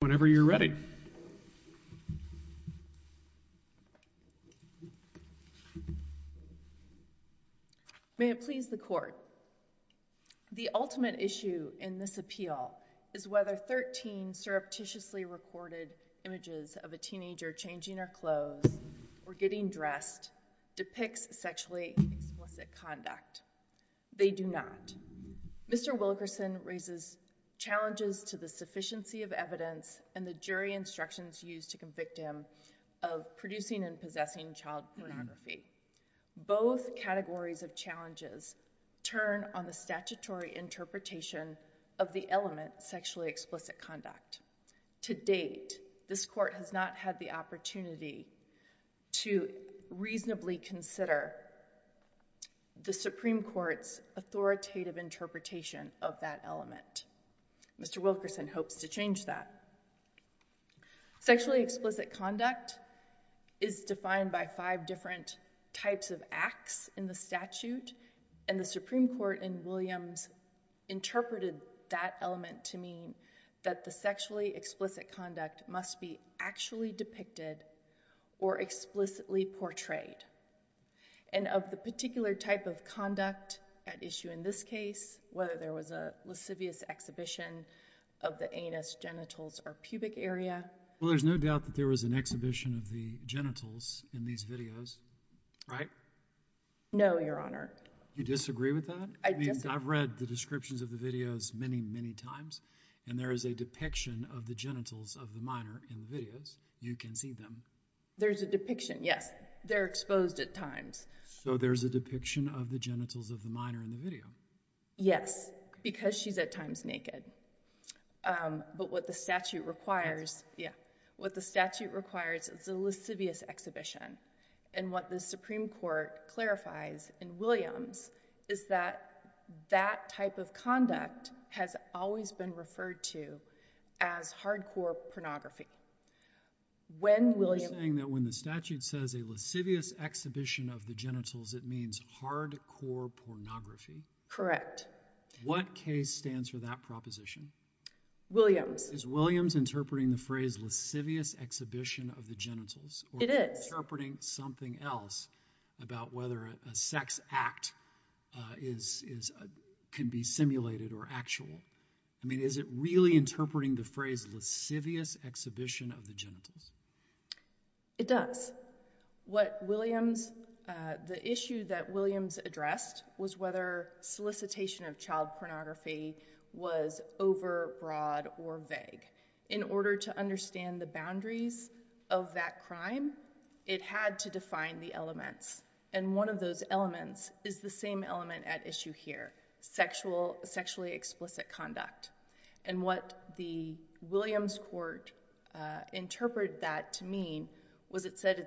whenever you're ready. May it please the court. The ultimate issue in this appeal is whether 13 surreptitiously recorded images of a teenager changing her clothes or getting dressed depicts sexually explicit conduct. They do not. Mr. Wilkerson raises challenges to the sufficiency of evidence and the jury instructions used to convict him of producing and possessing child pornography. Both categories of challenges turn on the statutory interpretation of the element sexually explicit conduct. To date, this court has not had the opportunity to reasonably consider the Supreme Court's authoritative interpretation of that element. Mr. Wilkerson hopes to change that. Sexually explicit conduct is defined by five different types of acts in the statute, and the Supreme Court in Williams interpreted that element to mean that the sexually explicit conduct must be actually depicted or explicitly portrayed. And of the particular type of conduct at issue in this case, whether there was a lascivious exhibition of the anus, genitals, or pubic area. Well, there's no doubt that there was an exhibition of the genitals in these videos, right? No, Your Honor. You disagree with that? I've read the descriptions of the videos many, many times, and there is a depiction of the genitals of the videos. You can see them. There's a depiction, yes. They're exposed at times. So there's a depiction of the genitals of the minor in the video. Yes, because she's at times naked. But what the statute requires, yeah, what the statute requires is a lascivious exhibition. And what the Supreme Court clarifies in Williams is that that type of conduct has always been referred to as hardcore pornography. You're saying that when the statute says a lascivious exhibition of the genitals, it means hardcore pornography? Correct. What case stands for that proposition? Williams. Is Williams interpreting the phrase lascivious exhibition of the genitals? It is. Or interpreting something else about whether a sex act can be simulated or actual? I mean, is it really interpreting the phrase lascivious exhibition of the genitals? It does. What Williams, the issue that Williams addressed was whether solicitation of child pornography was overbroad or vague. In order to understand the boundaries of that crime, it had to define the elements. And one of those elements is the same element at issue here, sexual, sexually explicit conduct. And what the Williams court interpreted that to mean was it said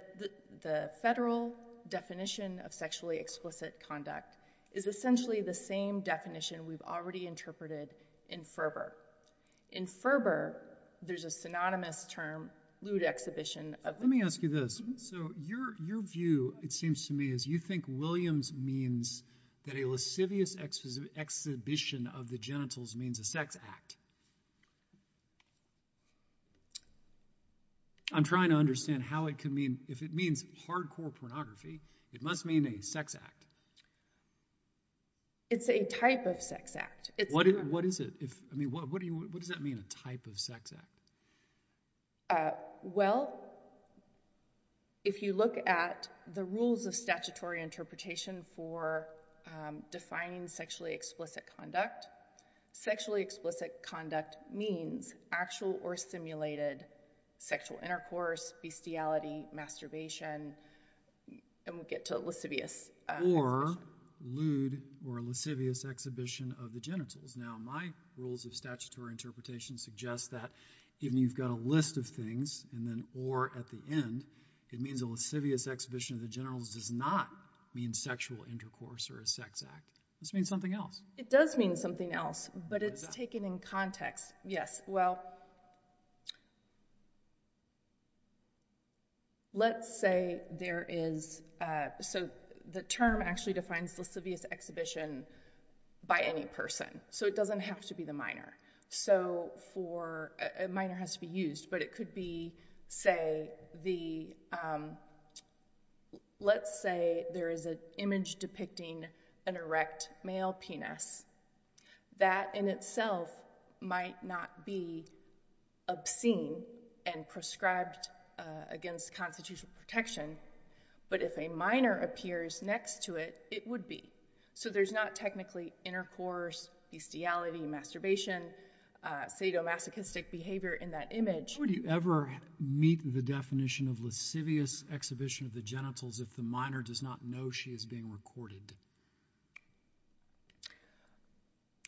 the federal definition of sexually explicit conduct is essentially the same definition we've already interpreted in Ferber. In Ferber, there's a synonymous term, lewd exhibition of the genitals. Let me ask you this. So your view, it seems to me, is you think Williams means that a lascivious exhibition of the genitals means a sex act. I'm trying to understand how it can mean, if it means hardcore pornography, it must mean a sex act. It's a type of sex act. What is it? I mean, what does that mean, a type of sex act? Well, if you look at the rules of statutory interpretation for defining sexually explicit conduct, sexually explicit conduct means actual or simulated sexual intercourse, bestiality, masturbation, and we'll get to lascivious. Or lewd or lascivious exhibition of the genitals. Now, my rules of statutory interpretation suggest that if you've got a list of things and then or at the end, it means a lascivious exhibition of the genitals does not mean sexual intercourse or a sex act. This means something else. It does mean something else, but it's taken in context. Yes. Well, let's say there is, so the term actually defines lascivious exhibition by any person. So it doesn't have to be the minor. So for a minor has to be used, but it could be, say the, let's say there is an image depicting an erect male penis that in itself might not be obscene and prescribed against constitutional protection. But if a minor appears next to it, it would be. So there's not technically intercourse, bestiality, masturbation, sadomasochistic behavior in that image. Would you ever meet the definition of lascivious exhibition of the genitals if the minor does not know she is being recorded?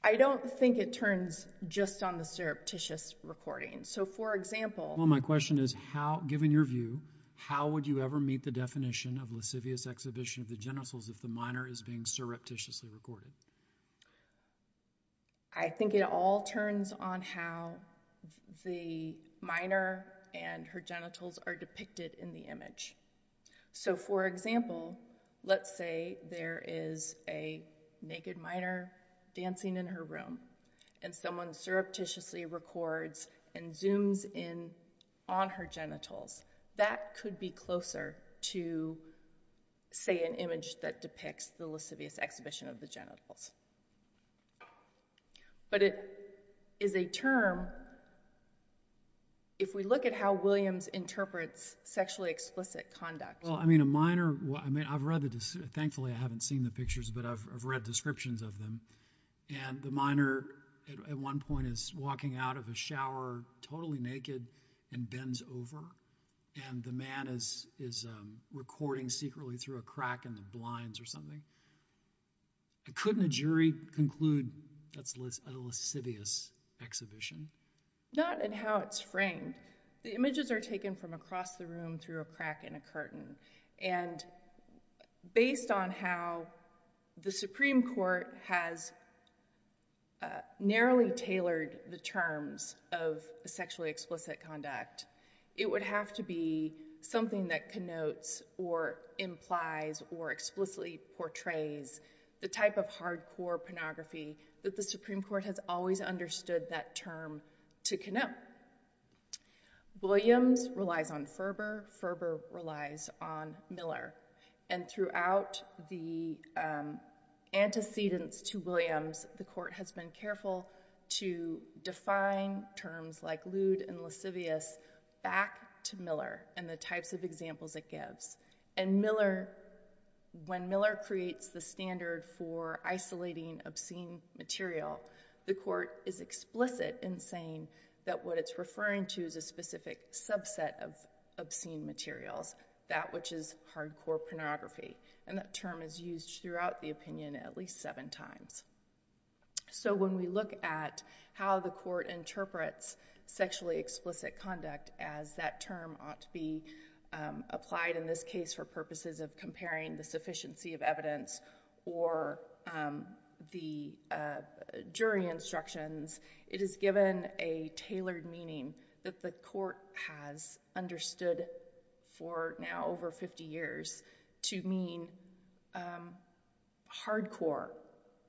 I don't think it turns just on the surreptitious recording. So for example, well, my question is how, given your view, how would you ever meet the definition of lascivious exhibition of the genitals if the minor is being surreptitiously recorded? I think it all turns on how the minor and her genitals are depicted in the image. So for example, let's say there is a naked minor dancing in her room and someone surreptitiously records and zooms in on her genitals. That could be closer to, say, an image that depicts the lascivious exhibition of the genitals. But it is a term, if we look at how Williams interprets sexually explicit conduct. Well, I mean, a minor, I mean, I've read the, thankfully I haven't seen the pictures, but I've read descriptions of them. And the minor at one point is walking out of a shower totally naked and bends over. And the man is recording secretly through a crack in the blinds or something. Couldn't a jury conclude that's a lascivious exhibition? Not in how it's framed. The images are taken from across the room through a crack in a curtain. And based on how the Supreme Court has narrowly tailored the terms of sexually explicit conduct, it would have to be something that connotes or implies or explicitly portrays the type of hardcore pornography that the Supreme Court has always understood that term to connote. Williams relies on Ferber. Ferber relies on Miller. And throughout the antecedents to Williams, the court has been careful to define terms like lewd and lascivious back to Miller and the types of examples it gives. And Miller, when Miller creates the standard for isolating obscene material, the court is explicit in saying that what it's referring to is a specific subset of obscene materials, that which is hardcore pornography. And that term is used throughout the opinion at least seven times. So when we look at how the court interprets sexually explicit conduct as that term ought to be applied in this case for purposes of comparing the sufficiency of evidence or the jury instructions, it is given a tailored meaning that the court has understood for now over 50 years to mean hardcore,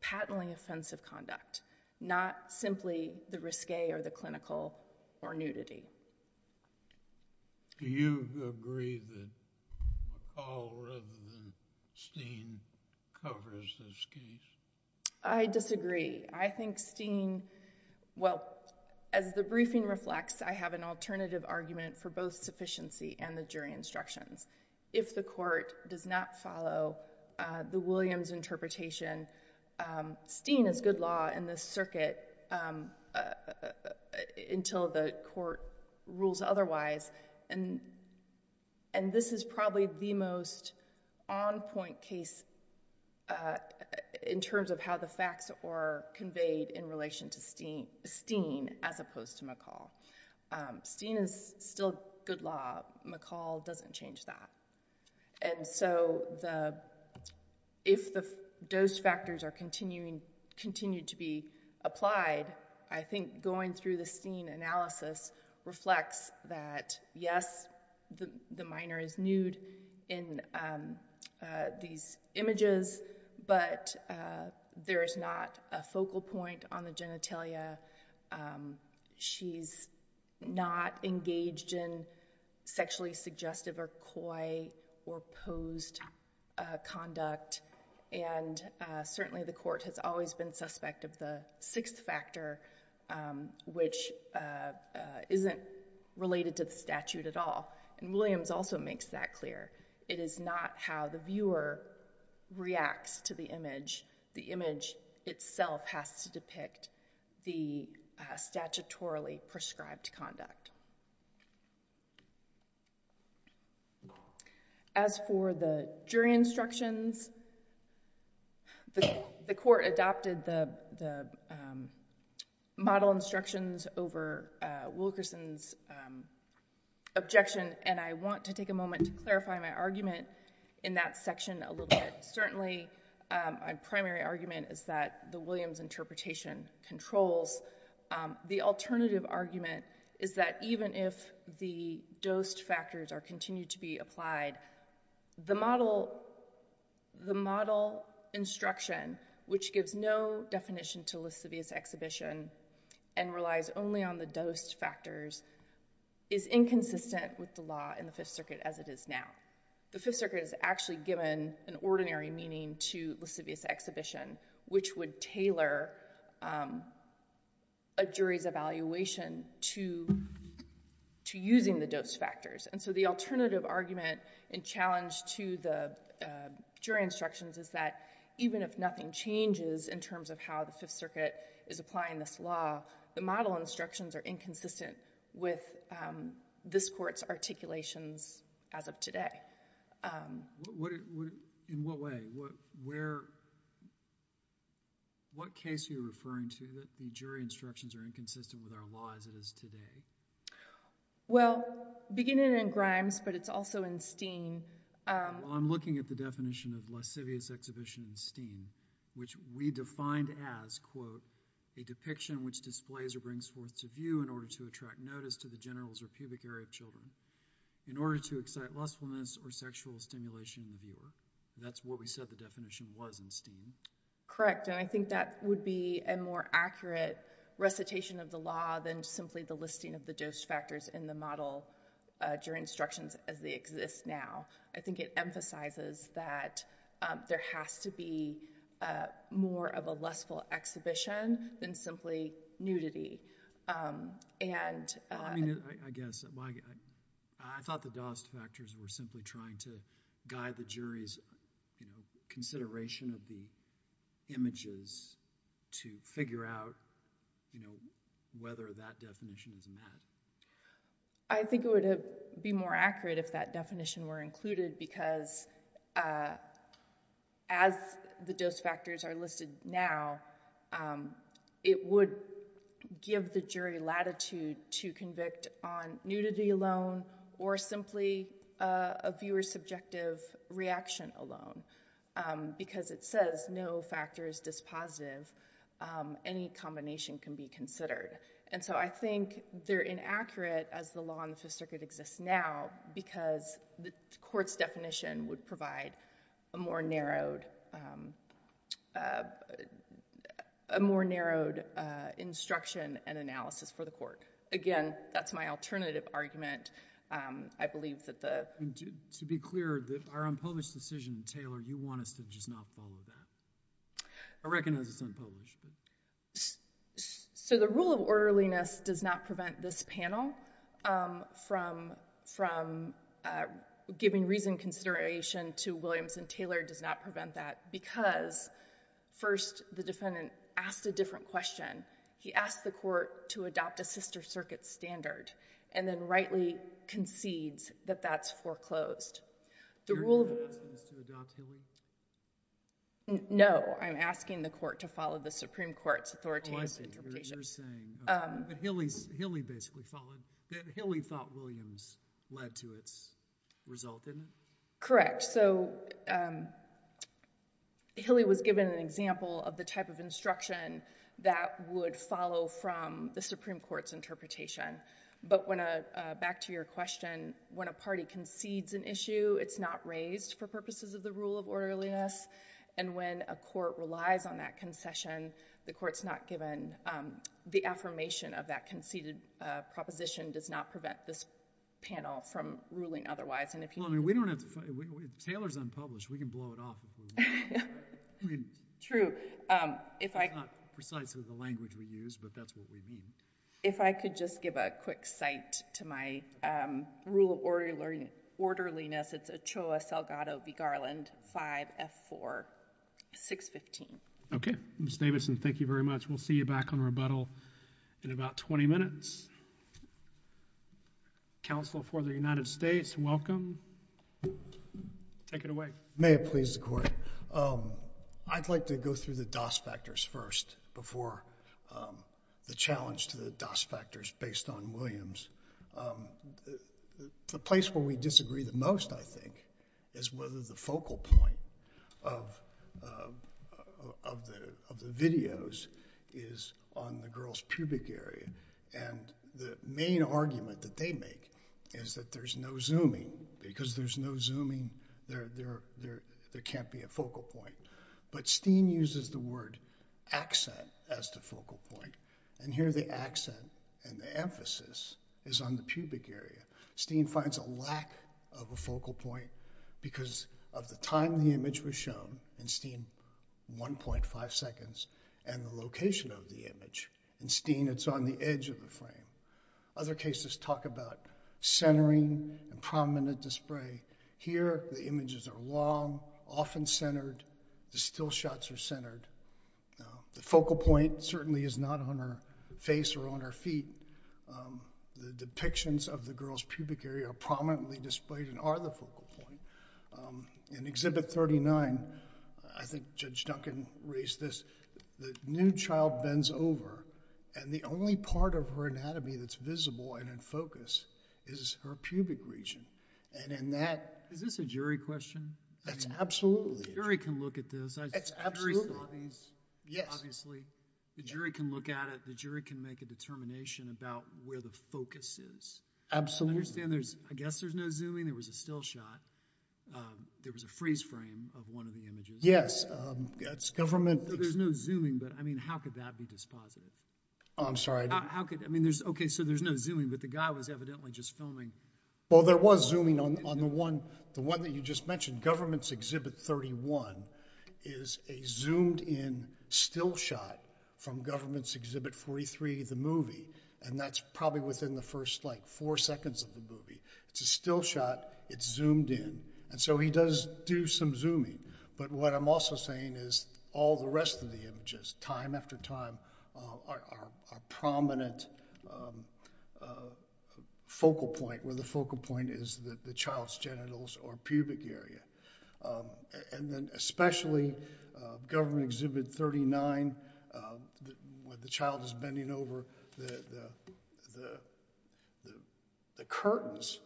patently offensive conduct, not simply the risque or the covers this case. I disagree. I think Steen, well, as the briefing reflects, I have an alternative argument for both sufficiency and the jury instructions. If the court does not follow the Williams interpretation, Steen is good law in this circuit until the court rules otherwise. And this is probably the most on point case in terms of how the facts are conveyed in relation to Steen as opposed to McCall. Steen is still good law. McCall doesn't change that. And so if the dose factors are continuing, continue to be applied, I think going through the Steen analysis reflects that, yes, the minor is nude in these images, but there is not a focal point on the genitalia. She's not engaged in sexually suggestive or coy or posed conduct. And certainly the court has always been suspect of the sixth factor, which isn't related to the statute at all. And Williams also makes that clear. It is not how the viewer reacts to the image. The image itself has to depict the statutorily prescribed conduct. As for the jury instructions, the court adopted the model instructions over Wilkerson's objection. And I want to take a moment to clarify my argument in that section a little bit. Certainly, my primary argument is that the Williams interpretation controls. The alternative argument is that even if the dosed factors are continued to be applied, the model instruction, which gives no definition to lascivious exhibition and relies only on the dosed factors, is inconsistent with the law in the Fifth Circuit as it is now. The Fifth Circuit has actually given an ordinary meaning to lascivious exhibition, which would tailor a jury's evaluation to using the dosed factors. And so the alternative argument and challenge to the jury instructions is that even if nothing changes in terms of how the Fifth Circuit is applying this law, the model instructions are inconsistent with this court's articulations as of today. In what way? What case are you referring to that the jury instructions are inconsistent with our law as it is today? Well, beginning in Grimes, but it's also in Steen. Well, I'm looking at the definition of lascivious exhibition in Steen, which we defined as, quote, a depiction which displays or brings forth to view in order to attract notice to the genitals or pubic area of children in order to excite lustfulness or sexual stimulation in the viewer. That's what we said the definition was in Steen. Correct. And I think that would be a more accurate recitation of the law than simply the listing of the dosed factors in the model jury instructions as they exist now. I think it emphasizes that there has to be more of a lustful exhibition than simply nudity. And I mean, I guess I thought the dosed factors were simply trying to guide the jury's, you know, consideration of the images to figure out, you know, whether that definition is met. I think it would be more accurate if that definition were included because as the dose factors are listed now, it would give the jury latitude to convict on nudity alone or simply a viewer's subjective reaction alone because it says no factor is dispositive. Any combination can be considered. And so I think they're inaccurate as the law in the Fifth Circuit exists now because the court's definition would provide a more narrowed instruction and analysis for the court. Again, that's my alternative argument. I believe that To be clear that our unpublished decision, Taylor, you want us to just not follow that. I recognize it's unpublished. So the rule of orderliness does not prevent this panel from giving reasoned consideration to Williams and Taylor does not prevent that because first the defendant asked a different question. He asked the court to adopt a sister circuit standard and then rightly concedes that that's foreclosed. No, I'm asking the court to follow the Supreme Court's authoritative Oh, I see what you're saying. But Hilley thought Williams led to its result, didn't it? Correct. So Hilley was given an example of the type of instruction that would follow from the Supreme Court's interpretation. But back to your question, when a party concedes an issue, it's not raised for purposes of the rule of orderliness. And when a court relies on that concession, the court's not given the affirmation of that conceded proposition does not prevent this panel from ruling otherwise. Taylor's unpublished. We can blow it off. I mean, true. If I could just give a quick cite to my rule of orderliness. It's Ochoa, Salgado v. Garland, 5F4615. Okay. Ms. Davidson, thank you very much. We'll see you back on rebuttal in about 20 minutes. Counsel for the United States, welcome. Take it away. May it please the Court. I'd like to go through the DAS factors first before the challenge to the DAS factors based on Williams. The place where we disagree the most, I think, is whether the focal point of the videos is on the girls' pubic area. And the main argument that they make is that there's no zooming. Because there's no zooming, there can't be a focal point. But Steen uses the word accent as the focal point. And here the accent and the emphasis is on the pubic area. Steen finds a lack of a focal point because of the time the image was shown in Steen, 1.5 seconds, and the location of the image. In Steen, it's on the edge of the frame. Other cases talk about centering and prominent display. Here, the images are long, often centered. The still shots are centered. The focal point certainly is not on her face or on her feet. The depictions of the girls' pubic area are prominently displayed and are the focal point. In Exhibit 39, I think Judge Duncan raised this, the nude child bends over, and the only part of her anatomy that's visible and in focus is her pubic region. Is this a jury question? It's absolutely. The jury can look at this. Yes. Obviously, the jury can look at it. The jury can make a determination about where the focus is. Absolutely. I guess there's no zooming. There was a still shot. There was a freeze frame of one of the images. Yes. It's government. There's no zooming, but how could that be dispositive? I'm sorry. Okay, so there's no zooming, but the guy was evidently just filming. Well, there was zooming on the one that you just mentioned. Government's Exhibit 31 is a zoomed-in still shot from Government's Exhibit 43, the movie, and that's probably within the first four seconds of the movie. It's a still shot. It's zoomed in. He does do some zooming, but what I'm also saying is all the rest of the images, time after time, are prominent focal point, where the focal point is the child's genitals or pubic area. And then especially Government Exhibit 39, where the child is bending over, the curtains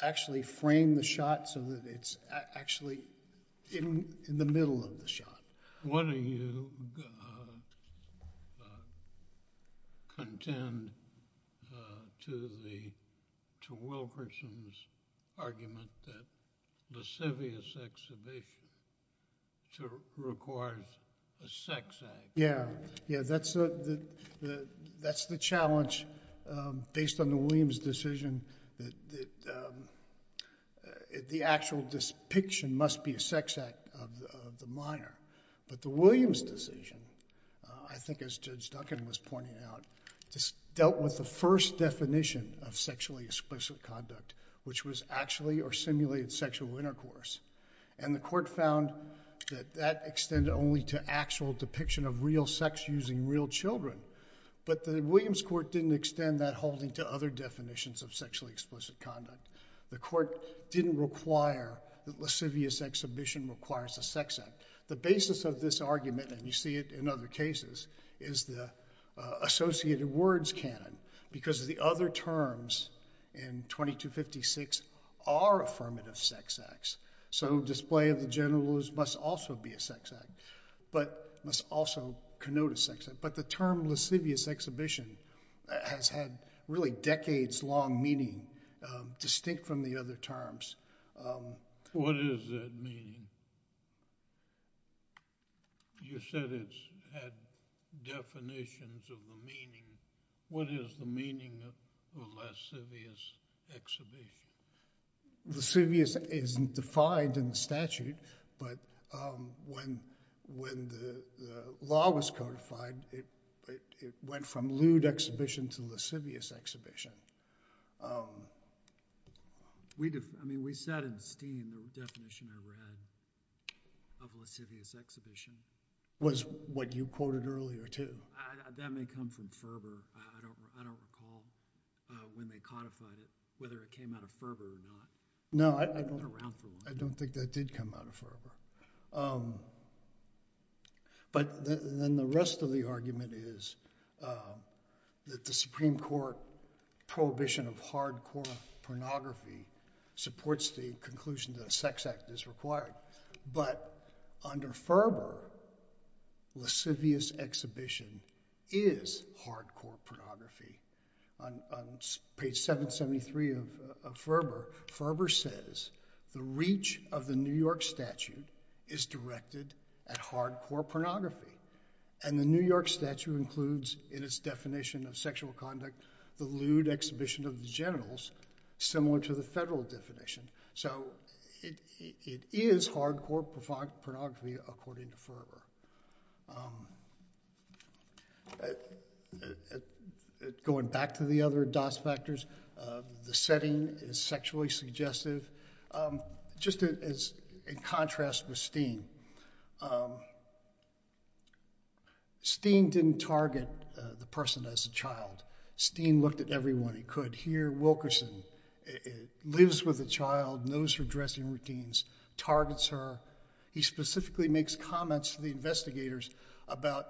actually frame the shot so that it's actually in the middle of the shot. What do you contend to Wilkerson's argument that lascivious exhibition requires a sex act? Yeah, yeah. That's the challenge based on the Williams decision that the actual depiction must be a sex act of the minor, but the Williams decision, I think as Judge Duncan was pointing out, just dealt with the first definition of sexually explicit conduct, which was actually or simulated sexual intercourse. And the court found that that extended only to actual depiction of real sex using real children, but the Williams court didn't extend that holding to other definitions of sexually explicit conduct. The court didn't require that lascivious exhibition requires a sex act. The basis of this argument, and you see it in other cases, is the associated words canon, because the other terms in 2256 are affirmative sex acts. So display of the genitals must also be a sex act, but must also connote a sex act. But the term lascivious exhibition has had really decades-long meaning distinct from the other terms. What does that mean? You said it's had definitions of the meaning. What is the meaning of lascivious exhibition? Lascivious isn't defined in the statute, but when the law was codified, it went from lewd exhibition to lascivious exhibition. I mean, we sat in steam, the definition I read of lascivious exhibition. Was what you quoted earlier too. That may come from fervor. I don't recall when they codified it, whether it came out of fervor or not. No, I don't think that did come out of fervor. But then the rest of the argument is that the Supreme Court prohibition of hardcore pornography supports the conclusion that a sex act is required. But under Ferber, lascivious exhibition is hardcore pornography. On page 773 of Ferber, Ferber says the reach of the New York statute is directed at hardcore pornography. And the New York statute includes in its definition of sexual conduct, the lewd exhibition of the genitals, similar to the federal definition. So it is hardcore pornography, according to Ferber. Going back to the other dos factors, the setting is sexually suggestive. Just as in contrast with Steen. Steen didn't target the person as a child. Steen looked at everyone he could. Here, Wilkerson lives with a child, knows her dressing routines, targets her. He specifically makes comments to the investigators about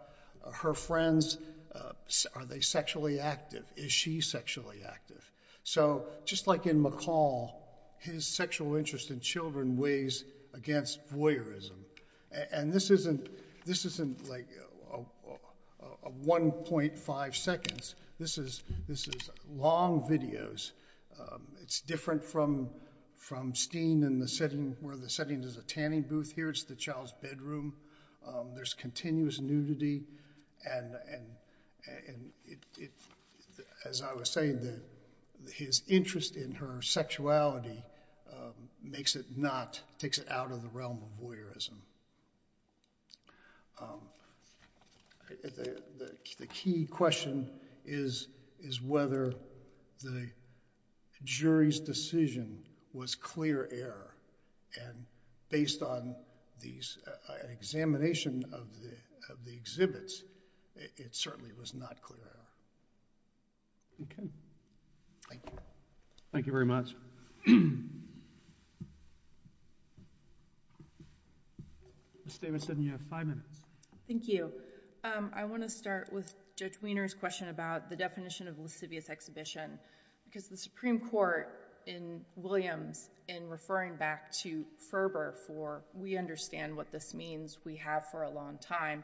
her friends. Are they sexually active? Is she sexually active? So just like in McCall, his sexual interest in children weighs against voyeurism. And this isn't like a 1.5 seconds. This is long videos. It's different from Steen, where the setting is a tanning booth. Here, it's the child's bedroom. There's continuous nudity. And as I was saying, his interest in her sexuality makes it not, takes it out of the realm of voyeurism. The key question is whether the jury's decision was clear error. And based on an examination of the exhibits, it certainly was not clear error. Okay. Thank you. Thank you very much. Ms. Davidson, you have five minutes. Thank you. I want to start with Judge Wiener's question about the definition of lascivious exhibition. Because the Supreme Court in Williams, in referring back to Ferber for, we understand what this means, we have for a long time.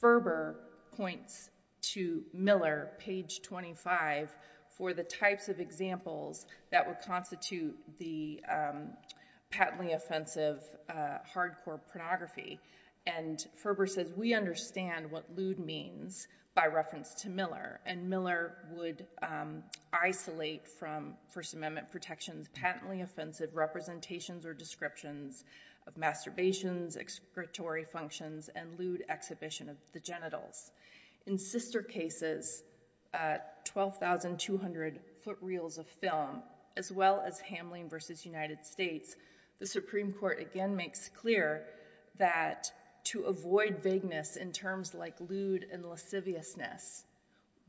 Ferber points to Miller, page 25, for the types of examples that would constitute the patently offensive, hardcore pornography. And Ferber says, we understand what lewd means by reference to Miller. And Miller would isolate from First Amendment protections, patently offensive representations or descriptions of masturbations, excretory functions, and lewd exhibition of the genitals. In sister cases, 12,200 foot reels of film, as well as Hamline versus United States, the Supreme Court again makes clear that to avoid vagueness in terms like lewd and lasciviousness,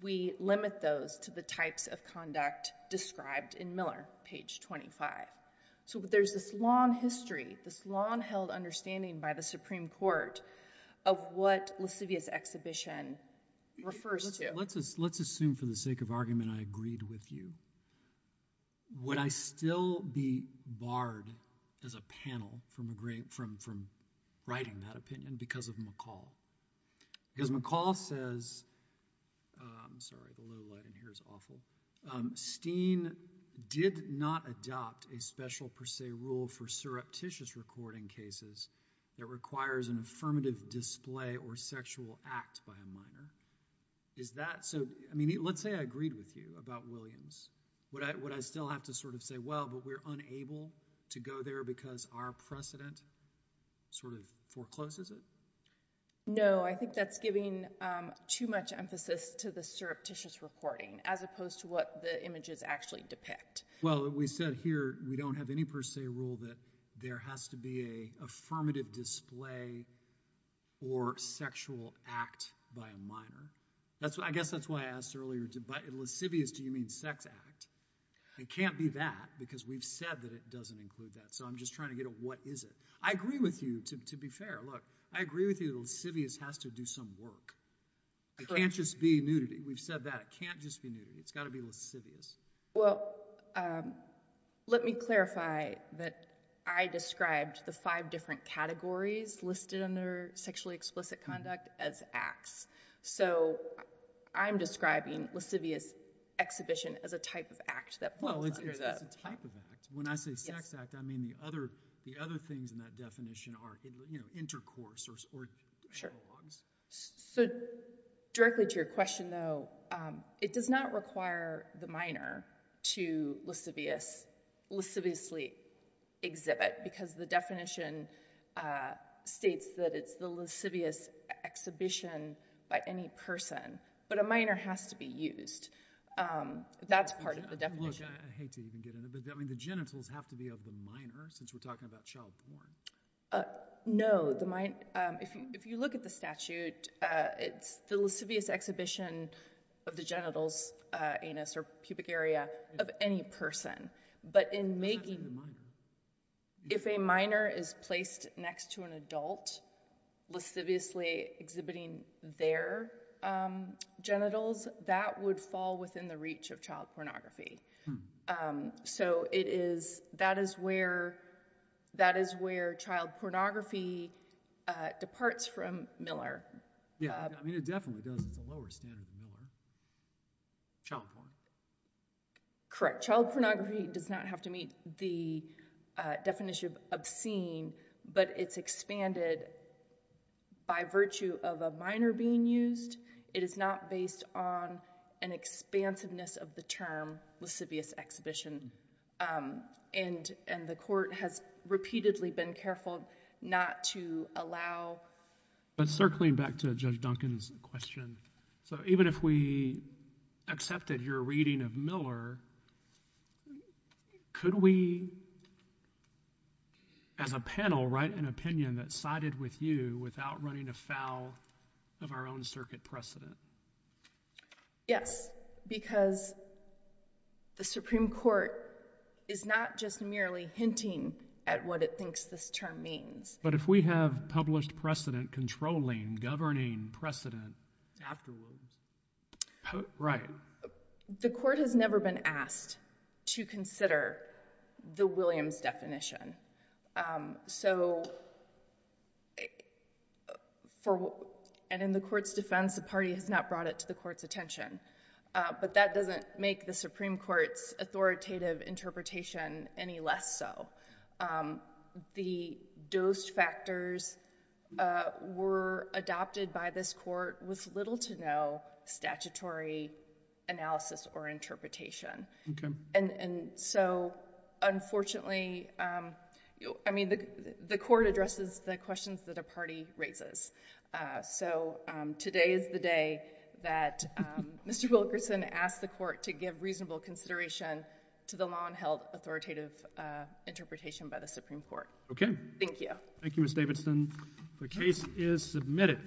we limit those to the types of conduct described in Miller, page 25. So there's this long history, this long-held understanding by the Supreme Court of what lascivious exhibition refers to. Let's assume for the sake of argument I agreed with you. Would I still be barred as a panel from writing that opinion because of McCall? Because McCall says, sorry, the low light in here is awful. Steen did not adopt a special per se rule for surreptitious recording cases that requires an affirmative display or sexual act by a minor. Is that so? I mean, let's say I agreed with you about Williams. Would I still have to sort of say, well, but we're unable to go there because our precedent sort of forecloses it? No, I think that's giving too much emphasis to the surreptitious recording as opposed to what the images actually depict. Well, we said here we don't have any per se rule that there has to be a affirmative display or sexual act by a minor. I guess that's why I asked earlier, by lascivious, do you mean sex act? It can't be that because we've said that it doesn't include that. So I'm just trying to get at what is it? I agree with you, to be fair. I agree with you that lascivious has to do some work. It can't just be nudity. We've said that. It can't just be nudity. It's got to be lascivious. Well, let me clarify that I described the five different categories listed under sexually explicit conduct as acts. So I'm describing lascivious exhibition as a type of act that falls under that. Well, it's a type of act. When I say sex act, I mean the other things in that definition are intercourse or analogs. So directly to your question, though, it does not require the minor to lasciviously exhibit because the definition states that it's the lascivious exhibition by any person. But a minor has to be used. That's part of the definition. Look, I hate to even get into it, but I mean the genitals have to be of the minor since we're talking about childborn. Uh, no, if you look at the statute, it's the lascivious exhibition of the genitals, anus, or pubic area of any person. But if a minor is placed next to an adult, lasciviously exhibiting their genitals, that would fall within the reach of child pornography. Um, so it is, that is where, that is where child pornography departs from Miller. Yeah, I mean it definitely does. It's a lower standard than Miller. Child porn. Correct. Child pornography does not have to meet the definition of obscene, but it's expanded by virtue of a minor being used. It is not based on an expansiveness of the term lascivious exhibition. Um, and, and the court has repeatedly been careful not to allow. But circling back to Judge Duncan's question, so even if we accepted your reading of Miller, could we, as a panel, write an opinion that sided with you without running afoul of our own circuit precedent? Yes, because the Supreme Court is not just merely hinting at what it thinks this term means. But if we have published precedent controlling, governing precedent afterwards. Right. The court has never been asked to consider the Williams definition. Um, so for, and in the court's defense, the party has not brought it to the court's attention. But that doesn't make the Supreme Court's authoritative interpretation any less so. The dose factors were adopted by this court with little to no statutory analysis or interpretation. And so unfortunately, um, I mean, the court addresses the questions that a party raises. So today is the day that Mr. Wilkerson asked the court to give reasonable consideration to the law and held authoritative interpretation by the Supreme Court. Thank you. Thank you, Ms. Davidson. The case is submitted. Thank you.